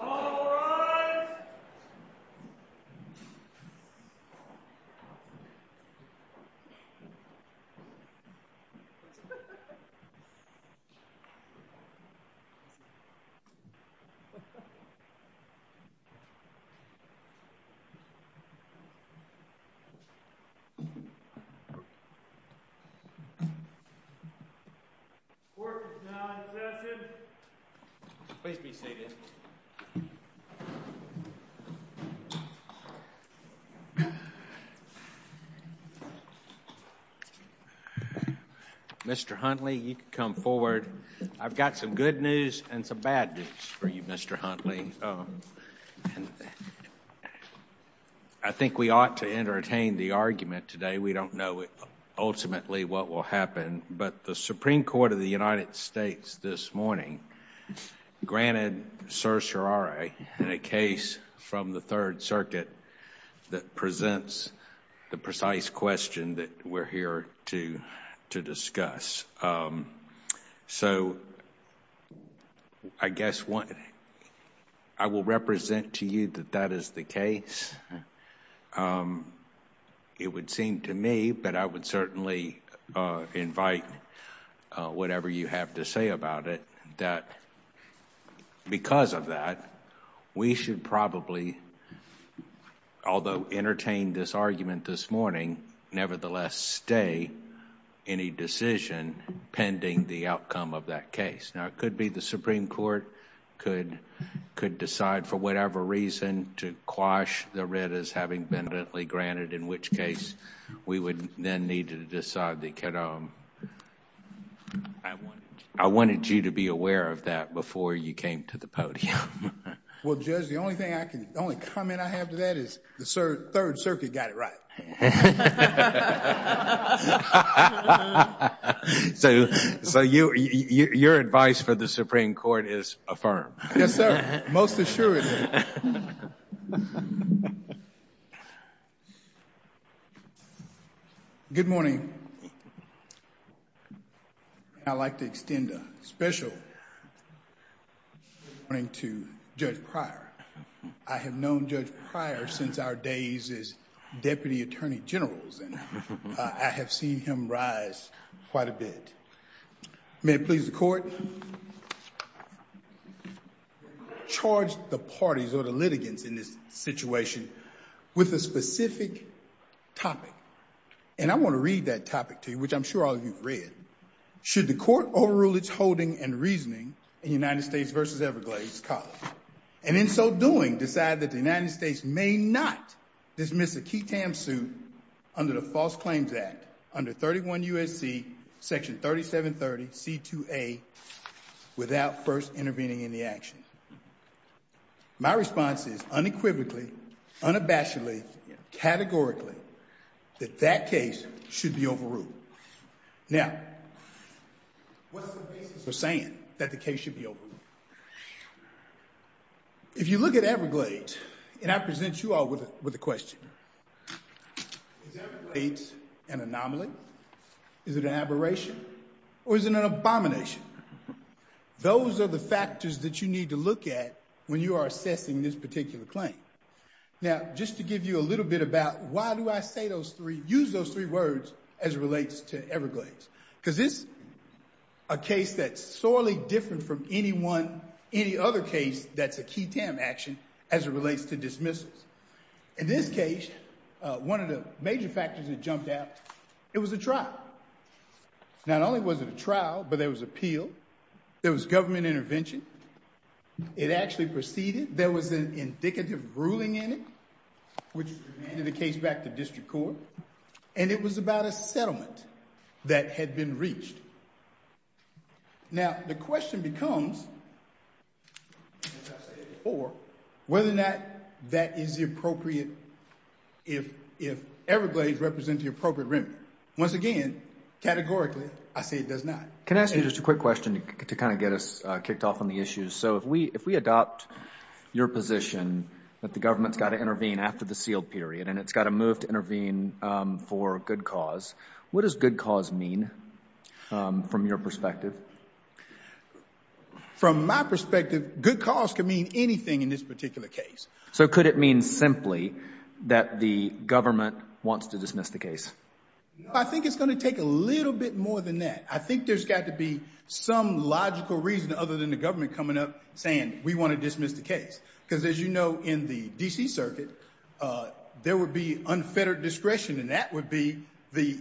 All rise. Please be seated. Mr. Huntley, you can come forward. I've got some good news and some bad news for you, Mr. Huntley. I think we ought to entertain the argument today. We don't know, ultimately, what will happen. But the Supreme Court of the United States this morning granted Sir Charare in a case from the Third Circuit that presents the precise question that we're here to discuss. So I guess what I will represent to you that that is the case. It would seem to me, but I would certainly invite whatever you have to say about it, that because of that, we should probably, although entertain this argument this morning, nevertheless stay any decision pending the outcome of that case. Now it could be the Supreme Court could decide for whatever reason to read as having been granted, in which case we would then need to decide they could... I wanted you to be aware of that before you came to the podium. Well, Judge, the only comment I have to that is the Third Circuit got it right. So your advice for the Supreme Court is affirmed. Yes, sir. Most assured. Good morning. I'd like to extend a special welcoming to Judge Pryor. I have known Judge Pryor since our days as Deputy Attorney General. I have seen him rise quite a bit. May it please the Court. He has charged the parties or the litigants in this situation with a specific topic, and I want to read that topic to you, which I'm sure all of you have read. Should the Court overrule its holding and reasoning in United States versus Everglades College, and in so doing, decide that the United States may not dismiss a key TAM suit under the False Claims Act under 31 U.S.C. Section 3730 C.2.A. without first intervening in the action? My response is unequivocally, unabashedly, categorically, that that case should be overruled. Now, what's the basis for saying that the case should be overruled? If you look at Everglades, and I present you all with a question, is Everglades an anomaly? Is it an aberration or is it an abomination? Those are the factors that you need to look at when you are assessing this particular claim. Now, just to give you a little bit about why do I say those three, use those three words as it relates to Everglades, because this is a case that's sorely different from any other case that's a key TAM action as it relates to dismissals. In this case, one of the major factors that jumped out, it was a trial. Not only was it a trial, but there was appeal, there was government intervention, it actually proceeded, there was an indicative ruling in it, which handed the case back to district court, and it was about a settlement that had been reached. Now, the question becomes, as I said before, whether or not that is the appropriate, if Everglades represents the appropriate remedy. Once again, categorically, I say it does not. Can I ask you just a quick question to kind of get us kicked off on the issues? So if we adopt your position that the government's got to intervene after the sealed period and it's got to move to intervene for good cause, what does good cause mean from your perspective? From my perspective, good cause can mean anything in this particular case. So could it mean simply that the government wants to dismiss the case? I think it's going to take a little bit more than that. I think there's got to be some logical reason other than the government coming up saying we want to dismiss the case, because as you know, in the DC circuit, there would be unfettered discretion and that would be the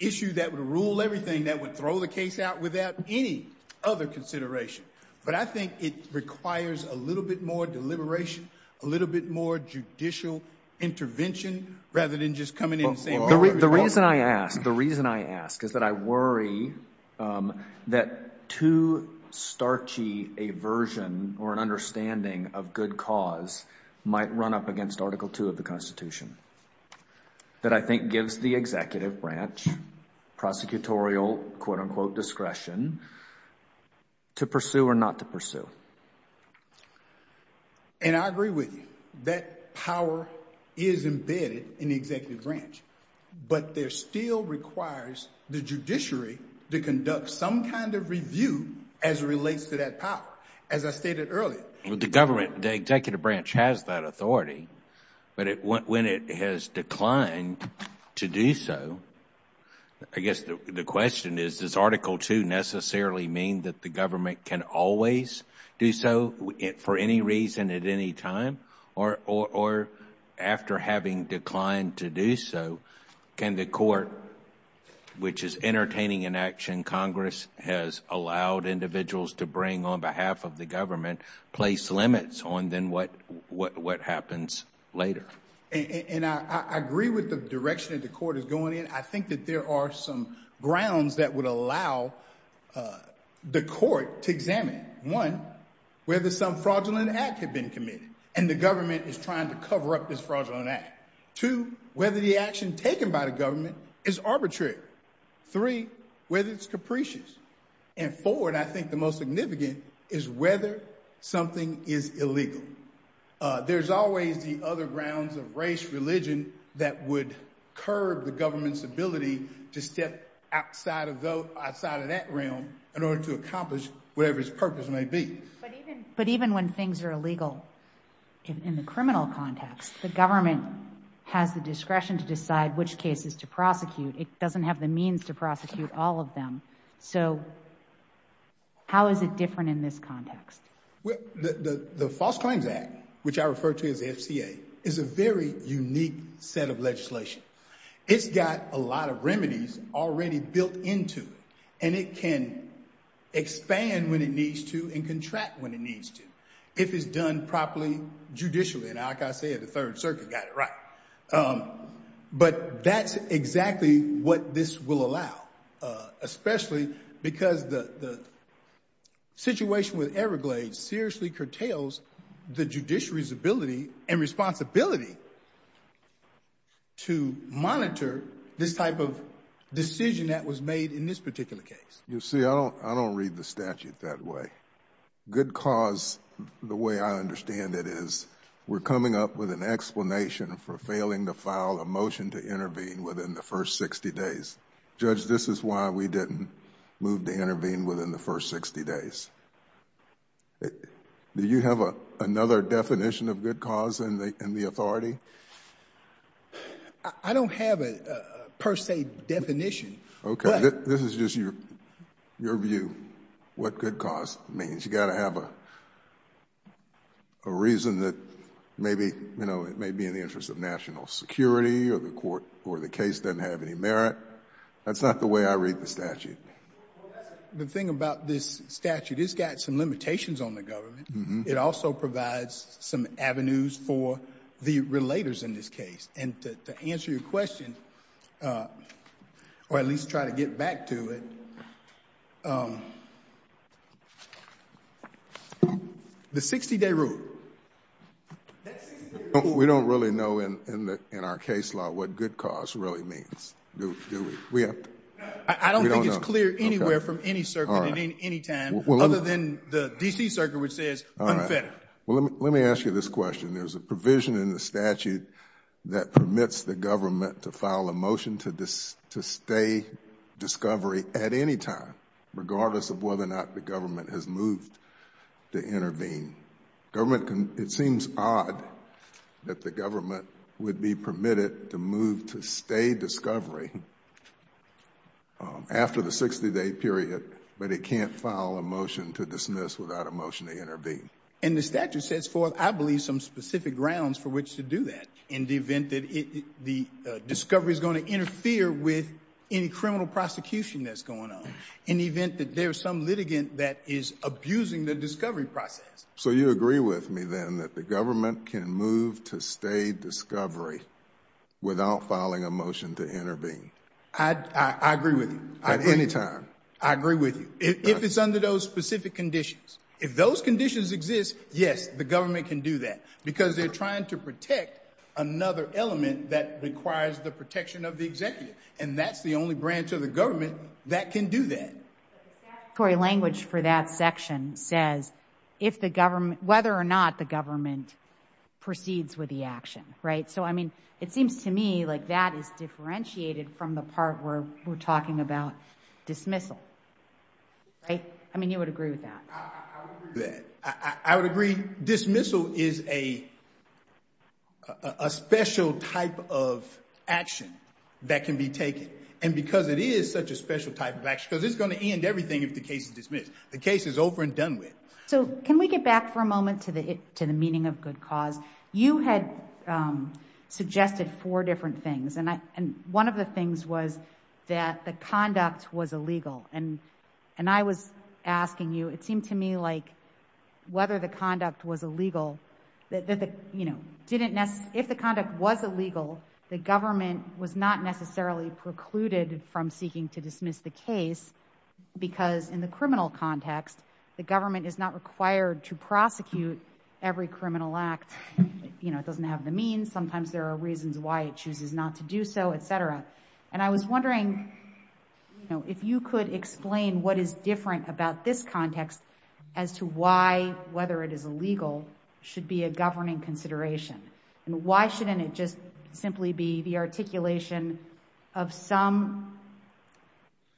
issue that would rule everything, that would throw the case out without any other consideration, but I think it requires a little bit more deliberation. A little bit more judicial intervention rather than just coming in and saying. The reason I ask, the reason I ask is that I worry that too starchy aversion or an understanding of good cause might run up against article two of the constitution that I think gives the executive branch prosecutorial quote unquote discretion to pursue or not to pursue. And I agree with you, that power is embedded in the executive branch, but there still requires the judiciary to conduct some kind of review as it relates to that power, as I stated earlier. The government, the executive branch has that authority, but when it has declined to do so, I guess the question is, does article two necessarily mean that the government can always do so for any reason at any time? Or after having declined to do so, can the court, which is entertaining an action Congress has allowed individuals to bring on behalf of the government, place limits on then what happens later? And I agree with the direction that the court is going in. I think that there are some grounds that would allow the court to examine, one, whether some fraudulent act had been committed and the government is trying to cover up this fraudulent act. Two, whether the action taken by the government is arbitrary. Three, whether it's capricious. And four, and I think the most significant is whether something is illegal. There's always the other grounds of race, religion that would curb the government's ability to step outside of that realm in order to accomplish whatever its purpose may be. But even when things are illegal in the criminal context, the government has the discretion to decide which cases to prosecute. It doesn't have the means to prosecute all of them. So how is it different in this context? Well, the False Claims Act, which I refer to as the FCA, is a very unique set of legislation. It's got a lot of remedies already built into it, and it can expand when it needs to and contract when it needs to, if it's done properly judicially. And like I said, the Third Circuit got it right. But that's exactly what this will allow, especially because the situation with the FCA is that it will allow the government to monitor this type of decision that was made in this particular case. You see, I don't read the statute that way. Good cause, the way I understand it, is we're coming up with an explanation for failing to file a motion to intervene within the first 60 days. Judge, this is why we didn't move to intervene within the first 60 days. Do you have another definition of good cause in the authority? I don't have a per se definition. Okay. This is just your view, what good cause means. You got to have a reason that maybe, you know, it may be in the interest of national security or the court or the case doesn't have any merit. That's not the way I read the statute. The thing about this statute, it's got some limitations on the government. It also provides some avenues for the relators in this case. And to answer your question, or at least try to get back to it, the 60-day rule. We don't really know in our case law what good cause really means, do we? I don't think it's clear anywhere from any circuit at any time, other than the D.C. circuit, which says unfettered. Well, let me ask you this question. There's a provision in the statute that permits the government to file a motion to stay discovery at any time, regardless of whether or not the government has moved to intervene. Government can, it seems odd that the government would be permitted to move to stay discovery after the 60-day period, but it can't file a motion to dismiss without a motion to intervene. And the statute sets forth, I believe, some specific grounds for which to do that in the event that the discovery is going to interfere with any criminal prosecution that's going on, in the event that there's some litigant that is abusing the discovery process. So you agree with me then that the government can move to stay discovery without filing a motion to intervene? I agree with you. At any time? I agree with you. If it's under those specific conditions, if those conditions exist, yes, the government can do that because they're trying to protect another element that requires the protection of the executive. And that's the only branch of the government that can do that. The statutory language for that section says if the government, whether or not the government proceeds with the action, right? So, I mean, it seems to me like that is differentiated from the part where we're talking about dismissal. Right? I mean, you would agree with that. I would agree. Dismissal is a special type of action that can be taken. And because it is such a special type of action, because it's going to end everything if the case is dismissed. The case is over and done with. So can we get back for a moment to the meaning of good cause? You had suggested four different things. And one of the things was that the conduct was illegal. And, and I was asking you, it seemed to me like whether the conduct was illegal, that the, you know, didn't necessarily, if the conduct was illegal, the government was not necessarily precluded from seeking to dismiss the case because in the criminal context, the government is not required to prosecute every criminal act. You know, it doesn't have the means. Sometimes there are reasons why it chooses not to do so, et cetera. And I was wondering, you know, if you could explain what is different about this context as to why, whether it is illegal, should be a governing consideration and why shouldn't it just simply be the articulation of some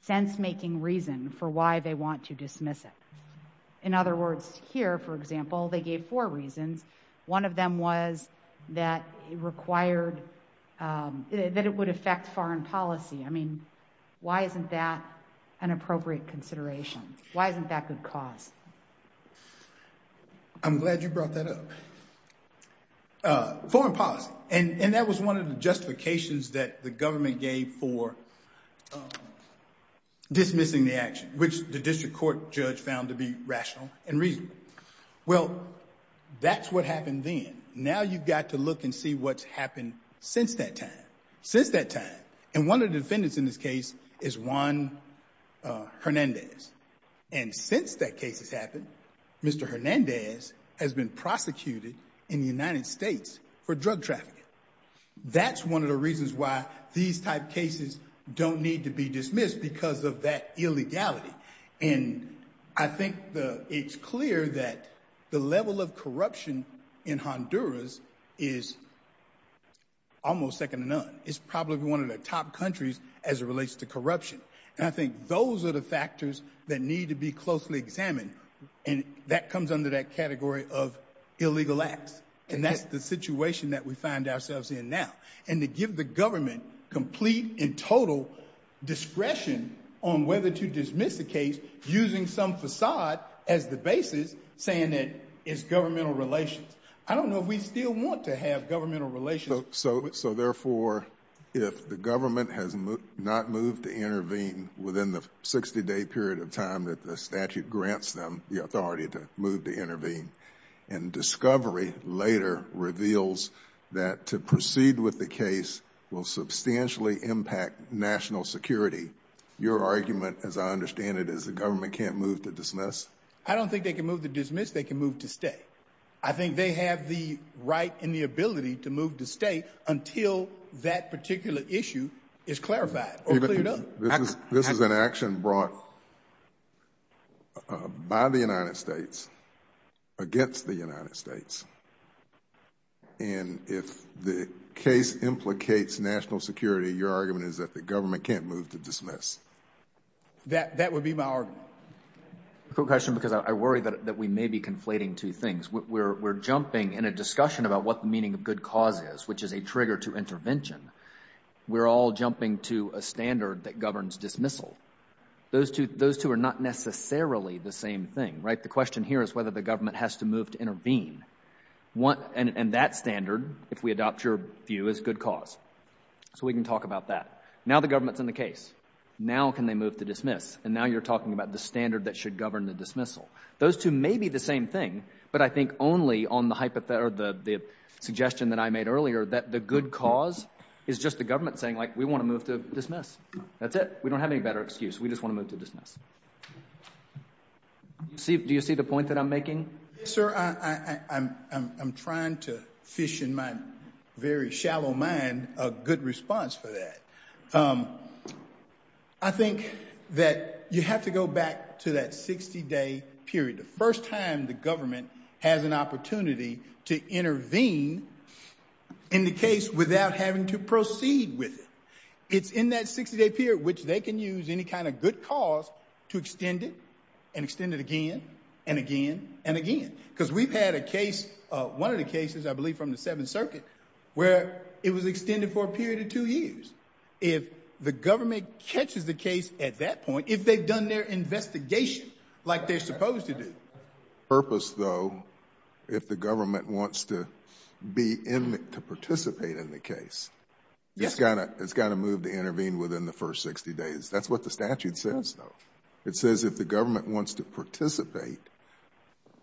sense-making reason for why they want to dismiss it. In other words, here, for example, they gave four reasons. One of them was that it required, that it would affect foreign policy. I mean, why isn't that an appropriate consideration? Why isn't that good cause? I'm glad you brought that up. Foreign policy. And that was one of the justifications that the government gave for dismissing the action, which the district court judge found to be rational and reasonable. Well, that's what happened then. Now you've got to look and see what's happened since that time. Since that time. And one of the defendants in this case is Juan Hernandez. And since that case has happened, Mr. Hernandez has been prosecuted in the United States for drug trafficking. That's one of the reasons why these type cases don't need to be dismissed because of that illegality. And I think it's clear that the level of corruption in Honduras is almost second to none. It's probably one of the top countries as it relates to corruption. And I think those are the factors that need to be closely examined. And that comes under that category of illegal acts. And that's the situation that we find ourselves in now. And to give the government complete and total discretion on whether to dismiss the case, using some facade as the basis, saying that it's governmental relations. I don't know if we still want to have governmental relations. So therefore, if the government has not moved to intervene within the 60 day period of time that the statute grants them the authority to move to intervene and discovery later reveals that to proceed with the case will substantially impact national security. Your argument, as I understand it, is the government can't move to dismiss. I don't think they can move to dismiss. They can move to stay. I think they have the right and the ability to move to stay until that particular issue is clarified. This is an action brought by the United States against the United States. And if the case implicates national security, your argument is that the government can't move to dismiss. That would be my argument. A quick question, because I worry that we may be conflating two things. We're jumping in a discussion about what the meaning of good cause is, which is a trigger to intervention. We're all jumping to a standard that governs dismissal. Those two are not necessarily the same thing, right? The question here is whether the government has to move to intervene. And that standard, if we adopt your view, is good cause. So we can talk about that. Now the government's in the case. Now can they move to dismiss? And now you're talking about the standard that should govern the dismissal. Those two may be the same thing. But I think only on the suggestion that I made earlier, that the good cause is just the government saying, like, we want to move to dismiss. That's it. We don't have any better excuse. We just want to move to dismiss. Do you see the point that I'm making? Sir, I'm trying to fish in my very shallow mind a good response for that. I think that you have to go back to that 60-day period. The first time the government has an opportunity to intervene in the case without having to proceed with it. It's in that 60-day period, which they can use any kind of good cause to extend it and extend it again and again and again. Because we've had a case, one of the cases, I believe from the Seventh Circuit, where it was extended for a period of two years. If the government catches the case at that point, if they've done their investigation like they're supposed to do. Purpose, though, if the government wants to be in, to participate in the case, it's got to, it's got to move to intervene within the first 60 days. That's what the statute says, though. It says if the government wants to participate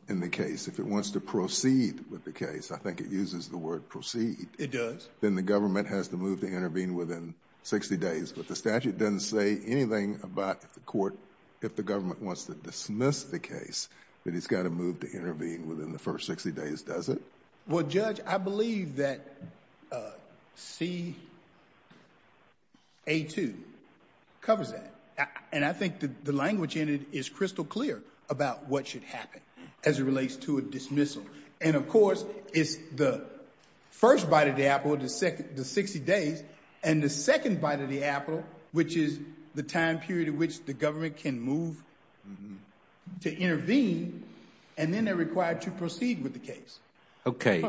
in the case, if it wants to proceed with the case, I think it uses the word proceed, then the government has to move to intervene within 60 days. But the statute doesn't say anything about the court, if the government wants to dismiss the case, that it's got to move to intervene within the first 60 days, does it? Well, Judge, I believe that C-A-2 covers that, and I think the language in it is crystal clear about what should happen as it relates to a dismissal. And of course, it's the first bite of the apple, the 60 days, and the second bite of the apple, which is the time period in which the government can move to intervene, and then they're required to proceed with the case. Okay.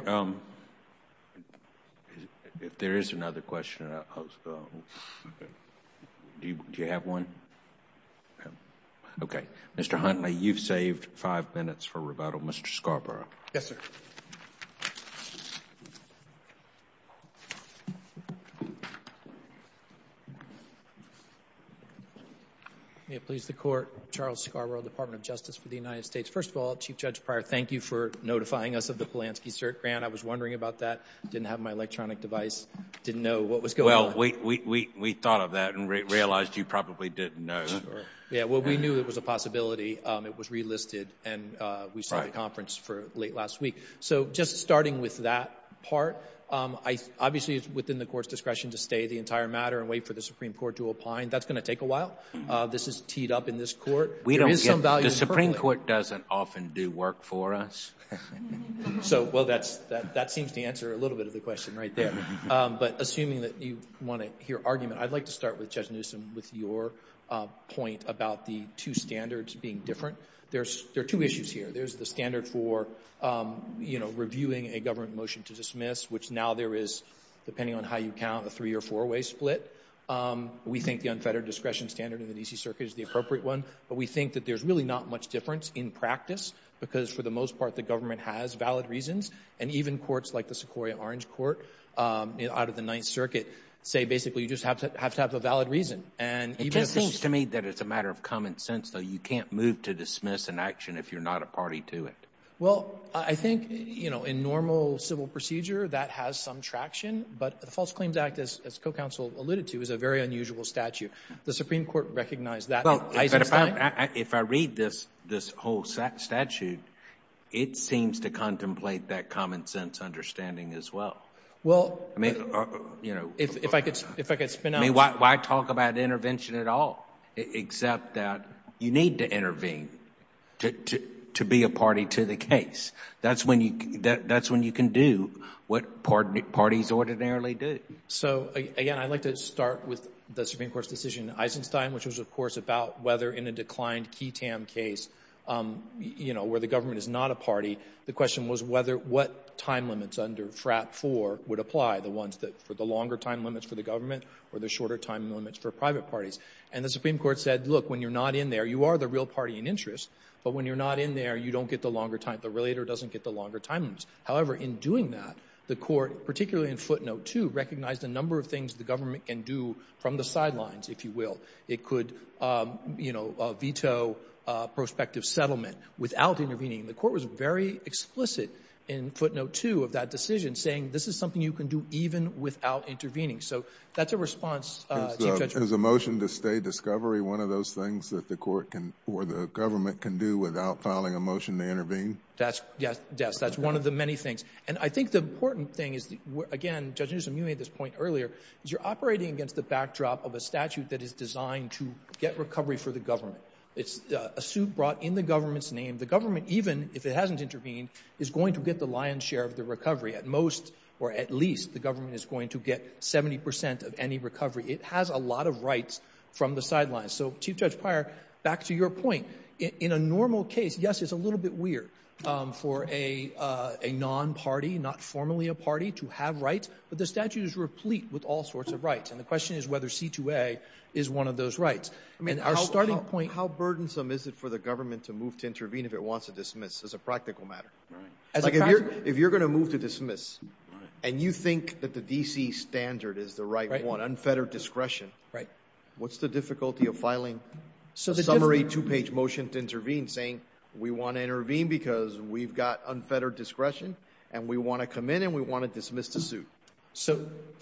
If there is another question, do you have one? Okay. Mr. Huntley, you've saved five minutes for rebuttal. Mr. Scarborough. Yes, sir. May it please the court, Charles Scarborough, Department of Justice for the United States. First of all, Chief Judge Pryor, thank you for notifying us of the Polanski cert grant. I was wondering about that, didn't have my electronic device, didn't know what was going on. Well, we thought of that and realized you probably didn't know. Yeah, well, we knew it was a possibility. It was relisted and we saw the conference for late last week. So just starting with that part, obviously it's within the court's discretion to stay the entire matter and wait for the Supreme Court to opine. That's going to take a while. This is teed up in this court. We don't get, the Supreme Court doesn't often do work for us. So, well, that seems to answer a little bit of the question right there. But assuming that you want to hear argument, I'd like to start with two standards being different. There's, there are two issues here. There's the standard for, you know, reviewing a government motion to dismiss, which now there is, depending on how you count, a three or four way split. We think the unfettered discretion standard in the DC Circuit is the appropriate one, but we think that there's really not much difference in practice because for the most part, the government has valid reasons. And even courts like the Sequoia Orange Court out of the Ninth Circuit say basically you just have to have to have a valid reason. And it just seems to me that it's a matter of common sense, though. You can't move to dismiss an action if you're not a party to it. Well, I think, you know, in normal civil procedure, that has some traction, but the False Claims Act, as co-counsel alluded to, is a very unusual statute. The Supreme Court recognized that. If I read this, this whole statute, it seems to contemplate that common sense understanding as well. Well, I mean, you know, if I could, if I could spin out. I mean, why talk about intervention at all, except that you need to intervene to be a party to the case. That's when you, that's when you can do what parties ordinarily do. So, again, I'd like to start with the Supreme Court's decision in Eisenstein, which was, of course, about whether in a declined QI-TAM case, you know, where the government is not a party, the question was whether, what time limits under FRAP 4 would apply, the ones that, for the longer time limits for the shorter time limits for private parties. And the Supreme Court said, look, when you're not in there, you are the real party in interest, but when you're not in there, you don't get the longer time, the relator doesn't get the longer time limits. However, in doing that, the Court, particularly in Footnote 2, recognized a number of things the government can do from the sidelines, if you will. It could, you know, veto prospective settlement without intervening. The Court was very explicit in Footnote 2 of that decision, saying this is something you can do even without intervening. So that's a response, Chief Judge. Is a motion to stay discovery one of those things that the Court can, or the government can do without filing a motion to intervene? That's, yes, that's one of the many things. And I think the important thing is, again, Judge Newsom, you made this point earlier, is you're operating against the backdrop of a statute that is designed to get recovery for the government. It's a suit brought in the government's name. The government, even if it hasn't intervened, is going to get the lion's At most, or at least, the government is going to get 70% of any recovery. It has a lot of rights from the sidelines. So, Chief Judge Pryor, back to your point. In a normal case, yes, it's a little bit weird for a non-party, not formally a party, to have rights, but the statute is replete with all sorts of rights. And the question is whether C2A is one of those rights. I mean, how burdensome is it for the government to move to intervene if it wants to dismiss, as a practical matter? If you're going to move to dismiss and you think that the D.C. standard is the right one, unfettered discretion, what's the difficulty of filing a summary two-page motion to intervene saying we want to intervene because we've got unfettered discretion and we want to come in and we want to dismiss the suit,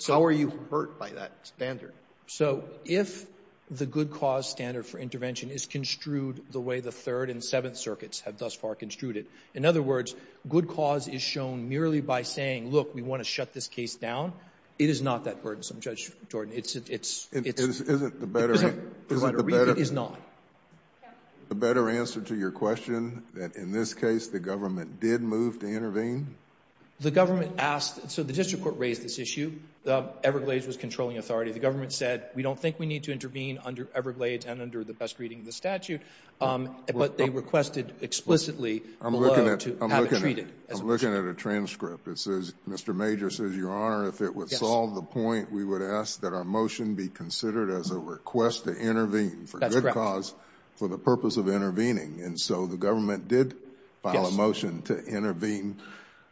how are you hurt by that standard? So, if the good cause standard for intervention is construed the way the Third and Seventh Circuits have thus far construed it, in other words, good cause is shown merely by saying, look, we want to shut this case down, it is not that burdensome, Judge Jordan. It's, it's, it's, it's, it's not. The better answer to your question, that in this case the government did move to intervene? The government asked, so the district court raised this issue. The Everglades was controlling authority. The government said, we don't think we need to intervene under Everglades and under the best reading of the statute. But they requested explicitly below to have it treated. I'm looking at a transcript. It says, Mr. Major says, Your Honor, if it would solve the point, we would ask that our motion be considered as a request to intervene for good cause for the purpose of intervening. And so the government did file a motion to intervene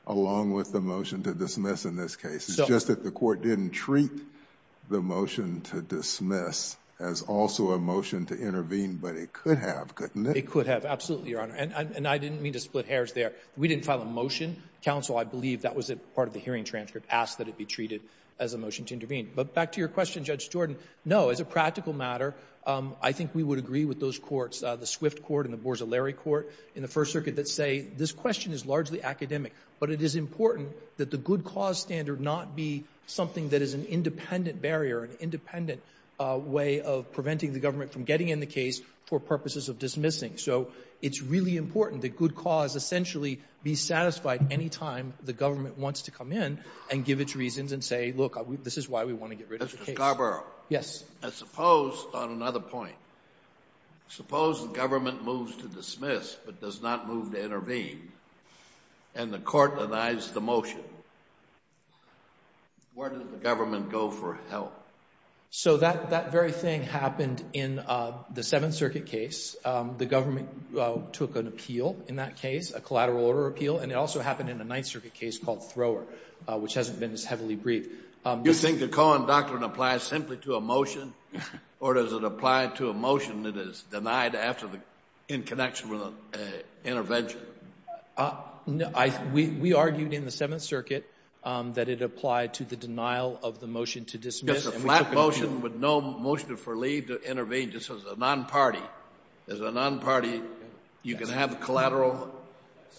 along with the motion to dismiss in this case. It's just that the court didn't treat the motion to dismiss as also a motion to intervene. It could have, absolutely, Your Honor. And, and I didn't mean to split hairs there. We didn't file a motion. Counsel, I believe that was a part of the hearing transcript, asked that it be treated as a motion to intervene. But back to your question, Judge Jordan. No, as a practical matter, I think we would agree with those courts, the Swift Court and the Boers O'Leary Court in the First Circuit that say, this question is largely academic, but it is important that the good cause standard not be something that is an independent barrier, an independent way of preventing the government from getting in the case for purposes of dismissing. So it's really important that good cause essentially be satisfied any time the government wants to come in and give its reasons and say, look, this is why we want to get rid of the case. Mr. Scarborough. Yes. I suppose on another point, suppose the government moves to dismiss, but does not move to intervene and the court denies the motion, where does the government go for help? So that very thing happened in the Seventh Circuit case. The government took an appeal in that case, a collateral order appeal, and it also happened in a Ninth Circuit case called Thrower, which hasn't been as heavily briefed. Do you think the Cohen doctrine applies simply to a motion, or does it apply to a motion that is denied after the in connection with an intervention? No, we argued in the Seventh Circuit that it applied to the denial of the motion to dismiss. It's a flat motion with no motion for leave to intervene, just as a non-party. As a non-party, you can have a collateral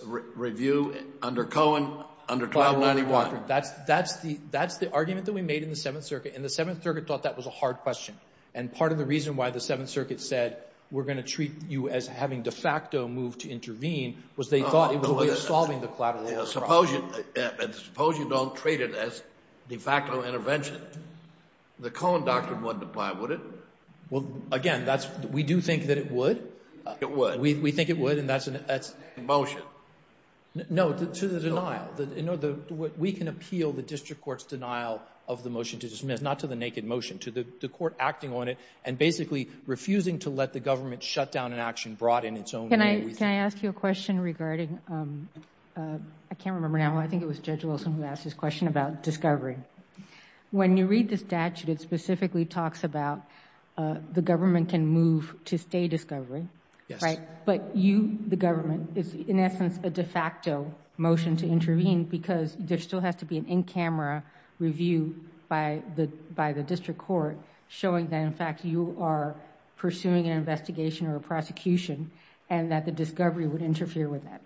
review under Cohen, under 1291. That's the argument that we made in the Seventh Circuit, and the Seventh Circuit thought that was a hard question. And part of the reason why the Seventh Circuit said, we're going to treat you as having de facto moved to intervene, was they thought it was a way of solving the collateral problem. Suppose you don't treat it as de facto intervention. The Cohen doctrine wouldn't apply, would it? Well, again, we do think that it would. It would. We think it would, and that's a motion. No, to the denial. We can appeal the district court's denial of the motion to dismiss, not to the naked motion, to the court acting on it, and basically refusing to let the government shut down an action brought in its own way. Can I ask you a question regarding, I can't remember now, I think it was Judge Wilson who asked this question about discovery. When you read the statute, it specifically talks about the government can move to stay discovery, but you, the government, is in essence a de facto motion to intervene because there still has to be an in-camera review by the district court showing that, in fact, you are pursuing an investigation or a discovery would interfere with that.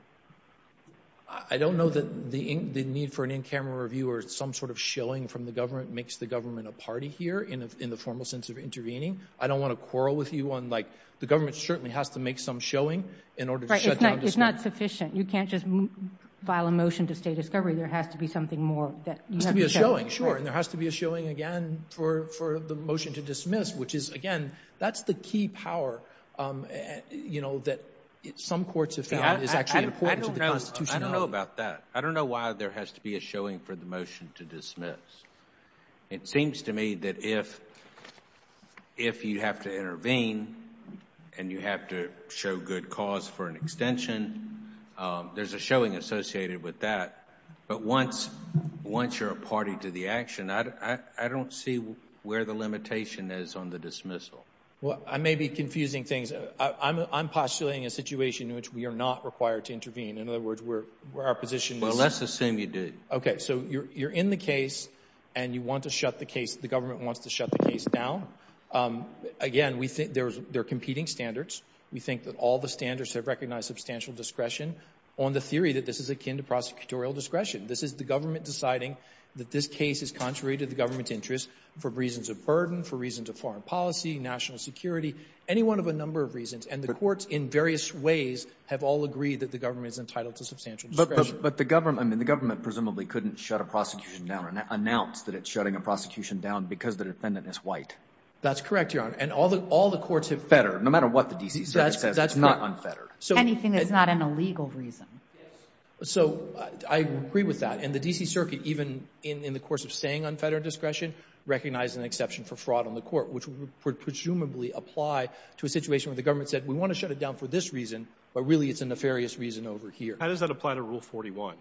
I don't know that the need for an in-camera review or some sort of showing from the government makes the government a party here in the formal sense of intervening. I don't want to quarrel with you on, like, the government certainly has to make some showing in order to shut down. It's not sufficient. You can't just file a motion to stay discovery. There has to be something more that you have to show. There has to be a showing, sure, and there has to be a showing again for the motion to dismiss, which is, again, that's the key power, you know, that some courts have found is actually important to the Constitution. I don't know about that. I don't know why there has to be a showing for the motion to dismiss. It seems to me that if you have to intervene and you have to show good cause for an extension, there's a showing associated with that, but once you're a party to the action, I don't see where the limitation is on the dismissal. Well, I may be confusing things. I'm postulating a situation in which we are not required to intervene. In other words, where our position is. Well, let's assume you did. Okay. So you're in the case and you want to shut the case. The government wants to shut the case down. Again, we think there's, they're competing standards. We think that all the standards have recognized substantial discretion on the theory that this is akin to prosecutorial discretion. This is the government deciding that this case is contrary to the government's interests for reasons of burden, for reasons of foreign policy, national security, any one of a number of reasons. And the courts in various ways have all agreed that the government is entitled to substantial discretion. But the government, I mean, the government presumably couldn't shut a prosecution down and announce that it's shutting a prosecution down because the defendant is white. That's correct, Your Honor. And all the, all the courts have. Fetter, no matter what the DC says, it's not unfettered. So anything that's not an illegal reason. So I agree with that. And the DC circuit, even in the course of saying unfettered discretion, recognizes an exception for fraud on the court, which would presumably apply to a situation where the government said we want to shut it down for this reason, but really it's a nefarious reason over here. How does that apply to Rule 41?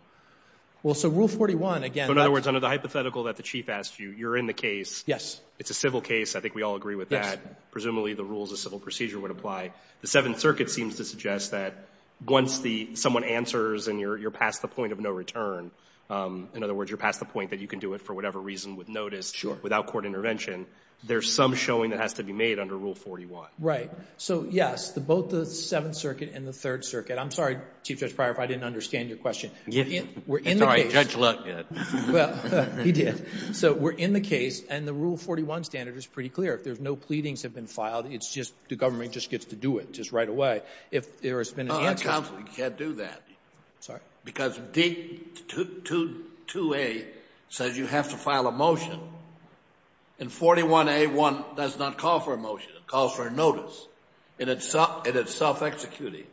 Well, so Rule 41, again, that's the one that's in the case. So in other words, under the hypothetical that the Chief asked you, you're in the case. Yes. It's a civil case. I think we all agree with that. Yes. Presumably the rules of civil procedure would apply. The Seventh Circuit seems to suggest that once the, someone answers and you're past the point of no return, in other words, you're past the point that you can do it for whatever reason with notice, without court intervention, there's some showing that has to be made under Rule 41. Right. So, yes, both the Seventh Circuit and the Third Circuit. I'm sorry, Chief Judge Pryor, if I didn't understand your question. It's all right. Judge Luck did. Well, he did. So we're in the case, and the Rule 41 standard is pretty clear. If there's no pleadings have been filed, it's just the government just gets to do it just right away. If there has been an answer. Counsel, you can't do that. Sorry? Because D-2A says you have to file a motion, and 41A1 does not call for a motion. It calls for a notice. And it's self-executing.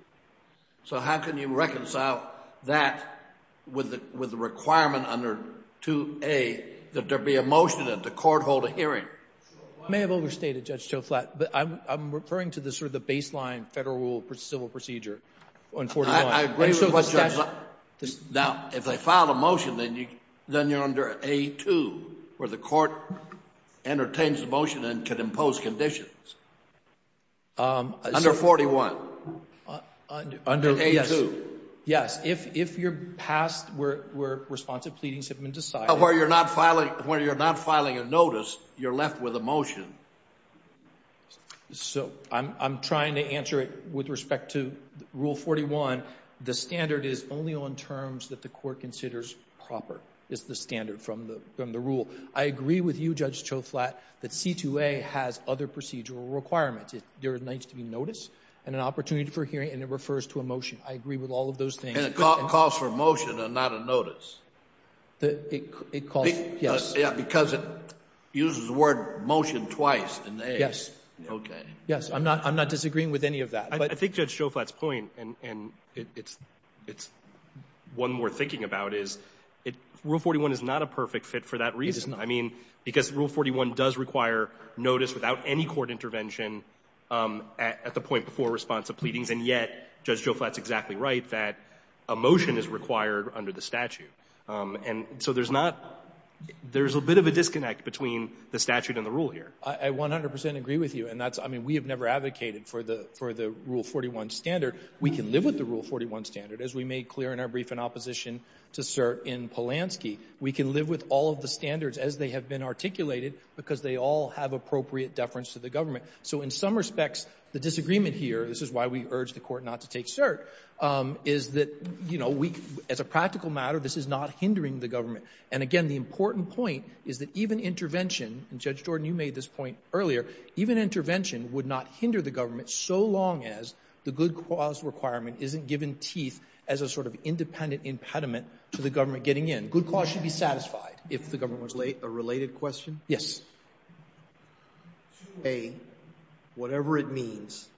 So how can you reconcile that with the requirement under 2A that there be a motion and the court hold a hearing? You may have overstated, Judge Joflat, but I'm referring to the sort of the baseline Federal rule civil procedure on 41. I agree with what Judge Luck said. Now, if they filed a motion, then you're under A2, where the court entertains the motion and can impose conditions. Under 41. Under A2. Yes. If you're passed where responsive pleadings have been decided. Where you're not filing a notice, you're left with a motion. So I'm trying to answer it with respect to Rule 41. The standard is only on terms that the court considers proper. It's the standard from the rule. I agree with you, Judge Joflat, that C-2A has other procedural requirements. There needs to be notice and an opportunity for hearing, and it refers to a motion. I agree with all of those things. And it calls for a motion and not a notice. It calls, yes. Yeah, because it uses the word motion twice in the A. Yes. Okay. Yes, I'm not disagreeing with any of that. I think Judge Joflat's point, and it's one worth thinking about, is Rule 41 is not a perfect fit for that reason. I mean, because Rule 41 does require notice without any court intervention at the point before responsive pleadings, and yet Judge Joflat's exactly right that a motion is required under the statute. And so there's not — there's a bit of a disconnect between the statute and the rule here. I 100 percent agree with you. And that's — I mean, we have never advocated for the Rule 41 standard. We can live with the Rule 41 standard, as we made clear in our brief in opposition to cert in Polanski. We can live with all of the standards as they have been articulated because they all have appropriate deference to the government. So in some respects, the disagreement here — this is why we urged the court not to take cert — is that, you know, we — as a practical matter, this is not hindering the government. And again, the important point is that even intervention — and, Judge Jordan, you made this point earlier — even intervention would not hinder the government so long as the good cause requirement isn't given teeth as a sort of independent impediment to the government getting in. Good cause should be satisfied if the government was — A related question? Yes. A, whatever it means,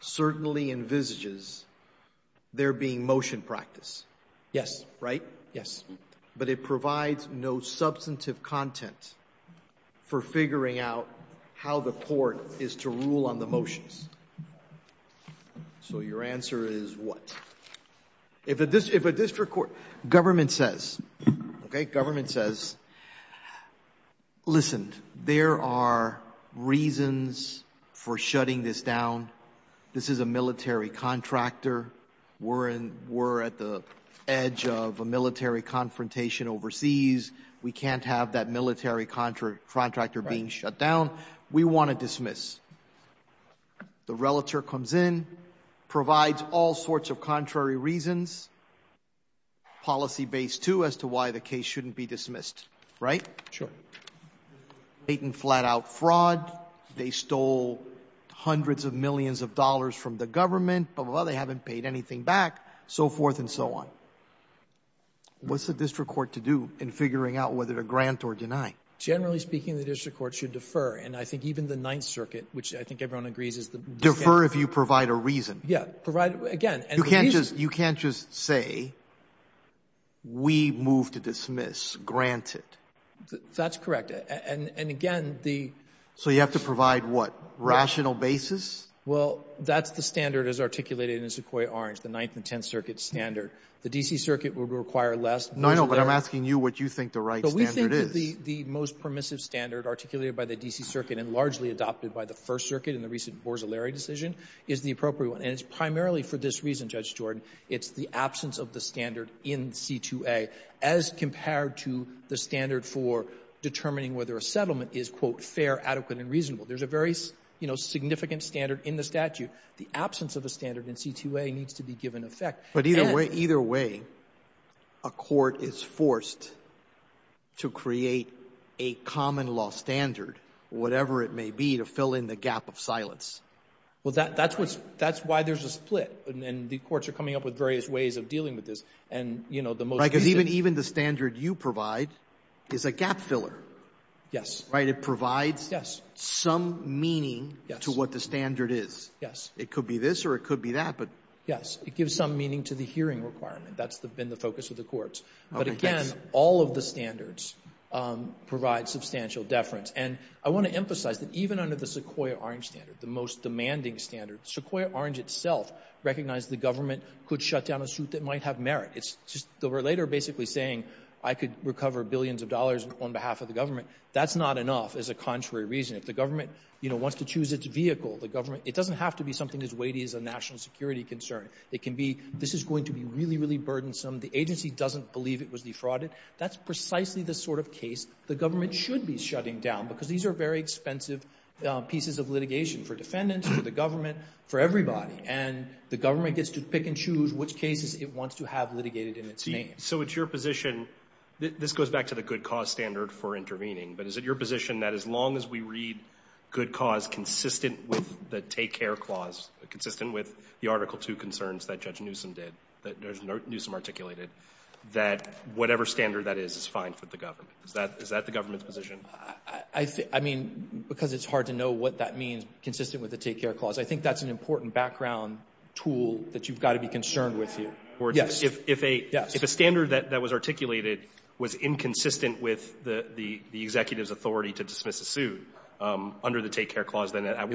certainly envisages there being motion practice. Yes. Right? Yes. But it provides no substantive content for figuring out how the court is to rule on the motions. So your answer is what? If a district court — government says — okay? Government says, listen, there are reasons for shutting this down. This is a military contractor. We're in — we're at the edge of a military confrontation overseas. We can't have that military contractor being shut down. We want to dismiss. The relative comes in, provides all sorts of contrary reasons, policy-based, too, as to why the case shouldn't be dismissed. Right? Sure. Patent flat-out fraud. They stole hundreds of millions of dollars from the government. Well, they haven't paid anything back, so forth and so on. What's the district court to do in figuring out whether to grant or deny? Generally speaking, the district court should defer. And I think even the Ninth Circuit, which I think everyone agrees is the — Defer if you provide a reason. Yeah, provide — again — You can't just — you can't just say, we move to dismiss, grant it. That's correct. And again, the — So you have to provide what? Rational basis? Well, that's the standard as articulated in Sequoyah-Orange, the Ninth and Tenth Circuit standard. The D.C. Circuit would require less. No, no, but I'm asking you what you think the right standard is. But we think that the most permissive standard articulated by the D.C. Circuit and largely adopted by the First Circuit in the recent Borzellari decision is the appropriate one. And it's primarily for this reason, Judge Jordan. It's the absence of the standard in C-2A as compared to the standard for determining whether a settlement is, quote, fair, adequate and reasonable. There's a very, you know, significant standard in the statute. The absence of a standard in C-2A needs to be given effect. But either way — either way, a court is forced to create a common law standard, whatever it may be, to fill in the gap of silence. Well, that's what's — that's why there's a split. And the courts are coming up with various ways of dealing with this. And, you know, the most — Right, because even the standard you provide is a gap filler. Yes. Right? It provides — Yes. — some meaning to what the standard is. Yes. It could be this or it could be that, but — Yes. It gives some meaning to the hearing requirement. That's been the focus of the courts. But, again, all of the standards provide substantial deference. And I want to emphasize that even under the Sequoyah-Orange standard, the most demanding standard, Sequoyah-Orange itself recognized the government could shut down a suit that might have merit. It's just — they were later basically saying, I could recover billions of dollars on behalf of the government. That's not enough, as a contrary reason. If the government, you know, wants to choose its vehicle, the government — it doesn't have to be something as weighty as a national security concern. It can be, this is going to be really, really burdensome. The agency doesn't believe it was defrauded. That's precisely the sort of case the government should be shutting down, because these are very expensive pieces of litigation for defendants, for the government, for everybody. And the government gets to pick and choose which cases it wants to have litigated in its name. So it's your position — this goes back to the good cause standard for intervening. But is it your position that as long as we read good cause consistent with the take-care clause, consistent with the Article 2 concerns that Judge Newsom did, that Judge Newsom articulated, that whatever standard that is, is fine for the government? Is that the government's position? I mean, because it's hard to know what that means, consistent with the take-care clause. I think that's an important background tool that you've got to be concerned with here. Yes. But if a — if a standard that was articulated was inconsistent with the executive's authority to dismiss a suit under the take-care clause, then that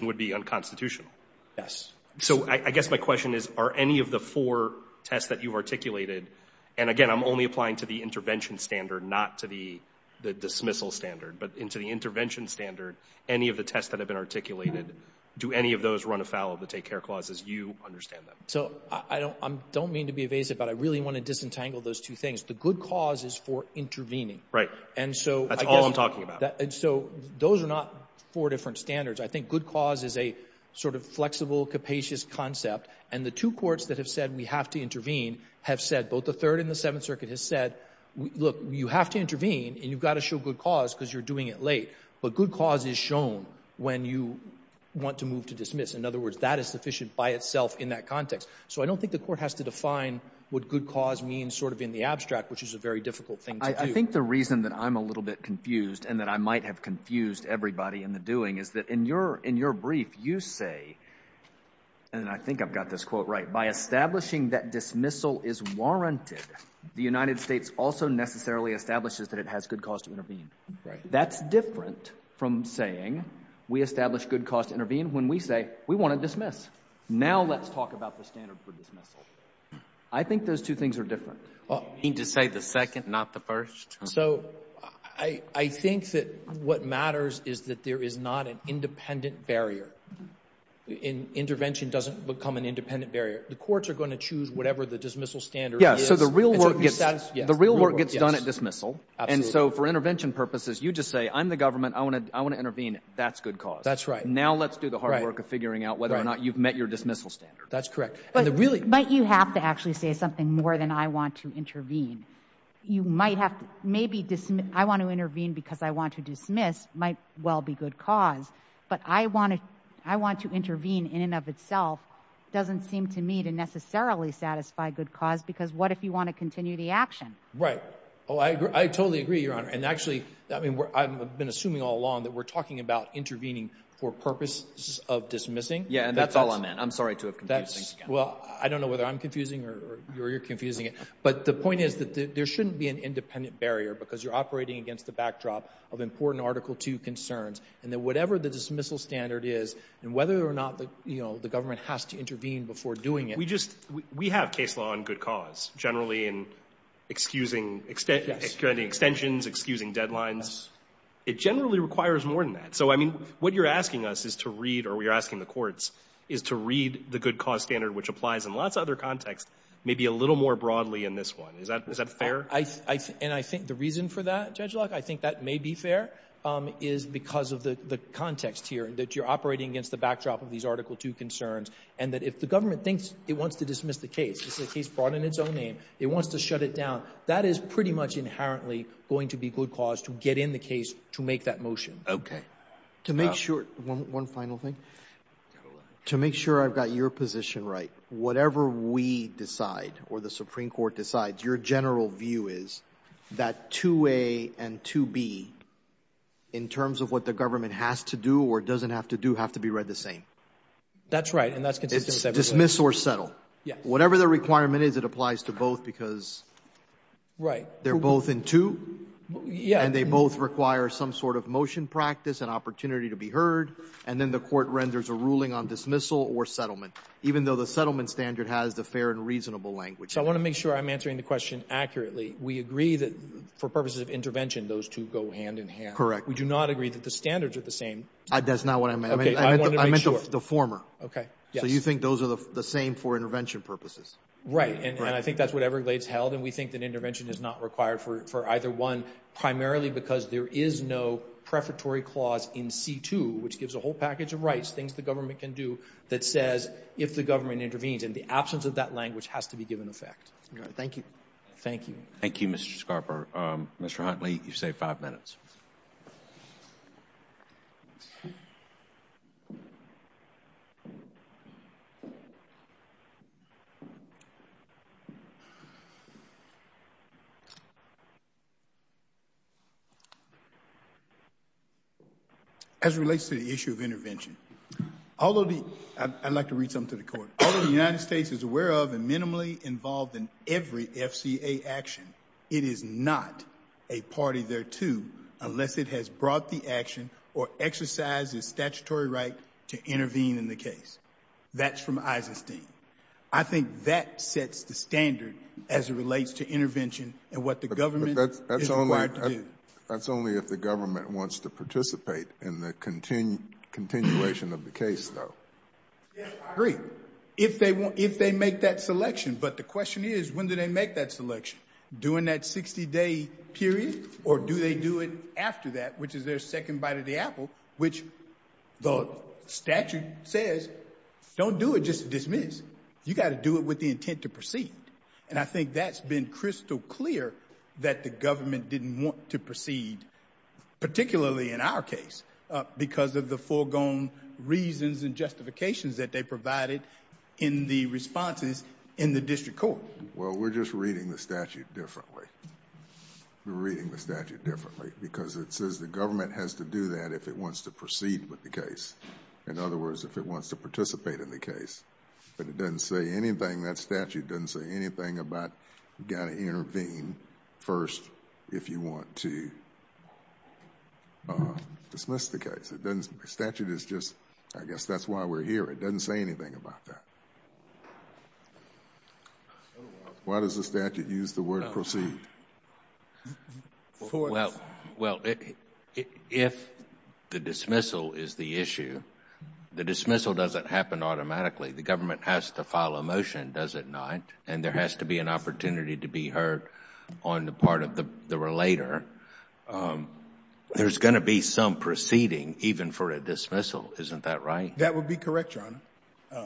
would be unconstitutional. Yes. So I guess my question is, are any of the four tests that you've articulated — and again, I'm only applying to the intervention standard, not to the dismissal standard — but into the intervention standard, any of the tests that have been articulated, do any of those run afoul of the take-care clause as you understand them? So I don't — I don't mean to be evasive, but I really want to disentangle those two things. The good cause is for intervening. And so I guess — That's all I'm talking about. And so those are not four different standards. I think good cause is a sort of flexible, capacious concept. And the two courts that have said we have to intervene have said — both the Third and the Seventh Circuit have said, look, you have to intervene, and you've got to show good cause because you're doing it late. But good cause is shown when you want to move to dismiss. In other words, that is sufficient by itself in that context. So I don't think the court has to define what good cause means sort of in the abstract, which is a very difficult thing to do. I think the reason that I'm a little bit confused and that I might have confused everybody in the doing is that in your — in your brief, you say — and I think I've got this quote right — by establishing that dismissal is warranted, the United States also necessarily establishes that it has good cause to intervene. Right. That's different from saying we establish good cause to intervene when we say we want to dismiss. Now let's talk about the standard for dismissal. I think those two things are different. You mean to say the second, not the first? So I think that what matters is that there is not an independent barrier. Intervention doesn't become an independent barrier. The courts are going to choose whatever the dismissal standard is. Yeah, so the real work gets — the real work gets done at dismissal. And so for intervention purposes, you just say, I'm the government. I want to intervene. That's good cause. That's right. But now let's do the hard work of figuring out whether or not you've met your dismissal standard. That's correct. But really — But you have to actually say something more than I want to intervene. You might have to — maybe I want to intervene because I want to dismiss might well be good cause. But I want to intervene in and of itself doesn't seem to me to necessarily satisfy good cause because what if you want to continue the action? Right. Oh, I totally agree, Your Honor. And actually, I mean, I've been assuming all along that we're talking about purposes of dismissing. Yeah, and that's all I meant. I'm sorry to have confused things again. Well, I don't know whether I'm confusing or you're confusing it. But the point is that there shouldn't be an independent barrier because you're operating against the backdrop of important Article 2 concerns. And that whatever the dismissal standard is and whether or not, you know, the government has to intervene before doing it — We just — we have case law on good cause generally in excusing — Yes. — extending extensions, excusing deadlines. It generally requires more than that. So, I mean, what you're asking us is to read — or you're asking the courts — is to read the good cause standard, which applies in lots of other contexts, maybe a little more broadly in this one. Is that fair? I — and I think the reason for that, Judge Locke, I think that may be fair is because of the context here, that you're operating against the backdrop of these Article 2 concerns and that if the government thinks it wants to dismiss the case, it's a case brought in its own name, it wants to shut it down, that is pretty much inherently going to be good cause to get in the case to make that motion. Okay. To make sure — one final thing. To make sure I've got your position right, whatever we decide or the Supreme Court decides, your general view is that 2a and 2b, in terms of what the government has to do or doesn't have to do, have to be read the same. That's right. And that's consistent with everything. It's dismiss or settle. Yes. Whatever the requirement is, it applies to both because — Right. They're both in 2. Yeah. And they both require some sort of motion practice and opportunity to be heard. And then the court renders a ruling on dismissal or settlement, even though the settlement standard has the fair and reasonable language. So I want to make sure I'm answering the question accurately. We agree that for purposes of intervention, those two go hand in hand. Correct. We do not agree that the standards are the same. That's not what I meant. Okay, I wanted to make sure. I meant the former. Okay, yes. So you think those are the same for intervention purposes? Right, and I think that's what Everglades held, and we think that intervention is not required for either one, primarily because there is no prefatory clause in C-2, which gives a whole package of rights, things the government can do, that says if the government intervenes. And the absence of that language has to be given effect. All right, thank you. Thank you. Thank you, Mr. Scarborough. Mr. Huntley, you've saved five minutes. As it relates to the issue of intervention, I'd like to read something to the court. Although the United States is aware of and minimally involved in every FCA action, it is not a party thereto unless it has brought the action or exercised its statutory right to intervene in the case. That's from Eisenstein. I think that sets the standard as it relates to intervention and what the government is required to do. But that's only if the government wants to participate in the continuation of the case, though. Yes, I agree, if they make that selection. But the question is, when do they make that selection? During that 60-day period? Or do they do it after that, which is their second bite of the apple, which the statute says, don't do it, just dismiss. You got to do it with the intent to proceed. And I think that's been crystal clear that the government didn't want to proceed, particularly in our case, because of the foregone reasons and justifications that they provided in the responses in the district court. Well, we're just reading the statute differently. We're reading the statute differently because it says the government has to do that if it wants to proceed with the case. In other words, if it wants to participate in the case. But it doesn't say anything, that statute doesn't say anything about you got to intervene first if you want to dismiss the case. The statute is just, I guess that's why we're here. It doesn't say anything about that. Why does the statute use the word proceed? Well, if the dismissal is the issue, the dismissal doesn't happen automatically. The government has to file a motion, does it not? And there has to be an opportunity to be heard on the part of the relator. There's going to be some proceeding, even for a dismissal. Isn't that right? That would be correct, Your Honor.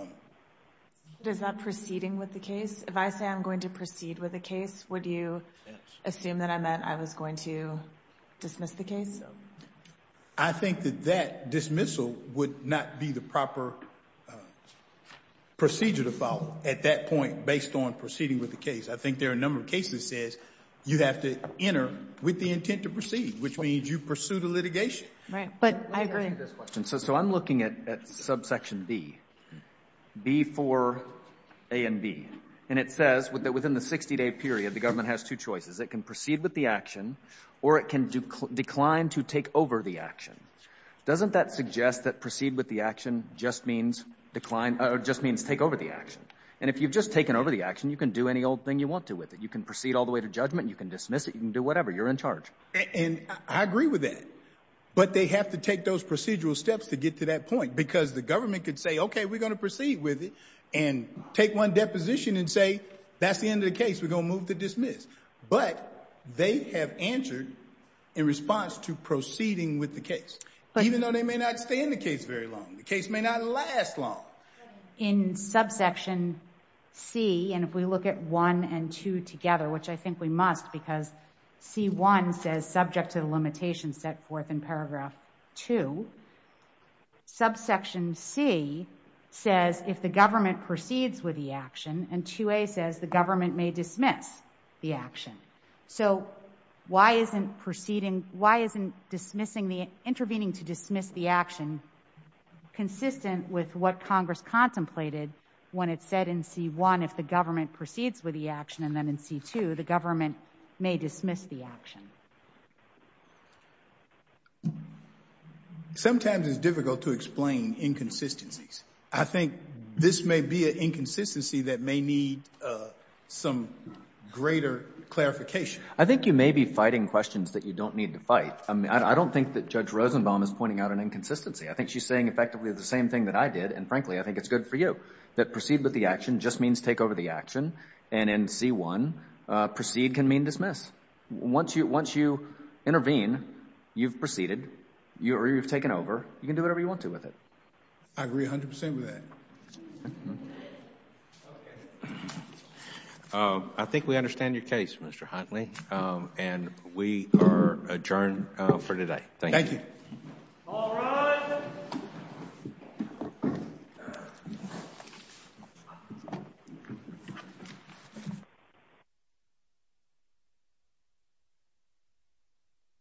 Does that proceeding with the case, if I say I'm going to proceed with the case, would you assume that I meant I was going to dismiss the case? I think that that dismissal would not be the proper procedure to follow at that point based on proceeding with the case. I think there are a number of cases that says you have to enter with the intent to proceed, which means you pursue the litigation. But I agree. So I'm looking at subsection B, B for A and B. And it says that within the 60-day period, the government has two choices. It can proceed with the action or it can decline to take over the action. Doesn't that suggest that proceed with the action just means take over the action? And if you've just taken over the action, you can do any old thing you want to with it. You can proceed all the way to judgment. You can dismiss it. You can do whatever. You're in charge. And I agree with that. But they have to take those procedural steps to get to that point because the government could say, okay, we're going to proceed with it and take one deposition and say, that's the end of the case. We're going to move to dismiss. But they have answered in response to proceeding with the case, even though they may not stay in the case very long. The case may not last long. In subsection C, and if we look at one and two together, which I think we must because C1 says subject to the limitations set forth in paragraph two. Subsection C says if the government proceeds with the action and 2A says the government may dismiss the action. So why isn't intervening to dismiss the action consistent with what Congress contemplated when it said in C1 if the government proceeds with the action and then in C2 the government may dismiss the action? Sometimes it's difficult to explain inconsistencies. I think this may be an inconsistency that may need some greater clarification. I think you may be fighting questions that you don't need to fight. I don't think that Judge Rosenbaum is pointing out an inconsistency. I think she's saying effectively the same thing that I did, and frankly, I think it's good for you. I think it's good for you that proceed with the action just means take over the action and in C1 proceed can mean dismiss. Once you intervene, you've proceeded, you've taken over, you can do whatever you want to with it. I agree 100% with that. I think we understand your case, Mr. Huntley, and we are adjourned for today. Thank you. Thank you. All rise. Order. Order.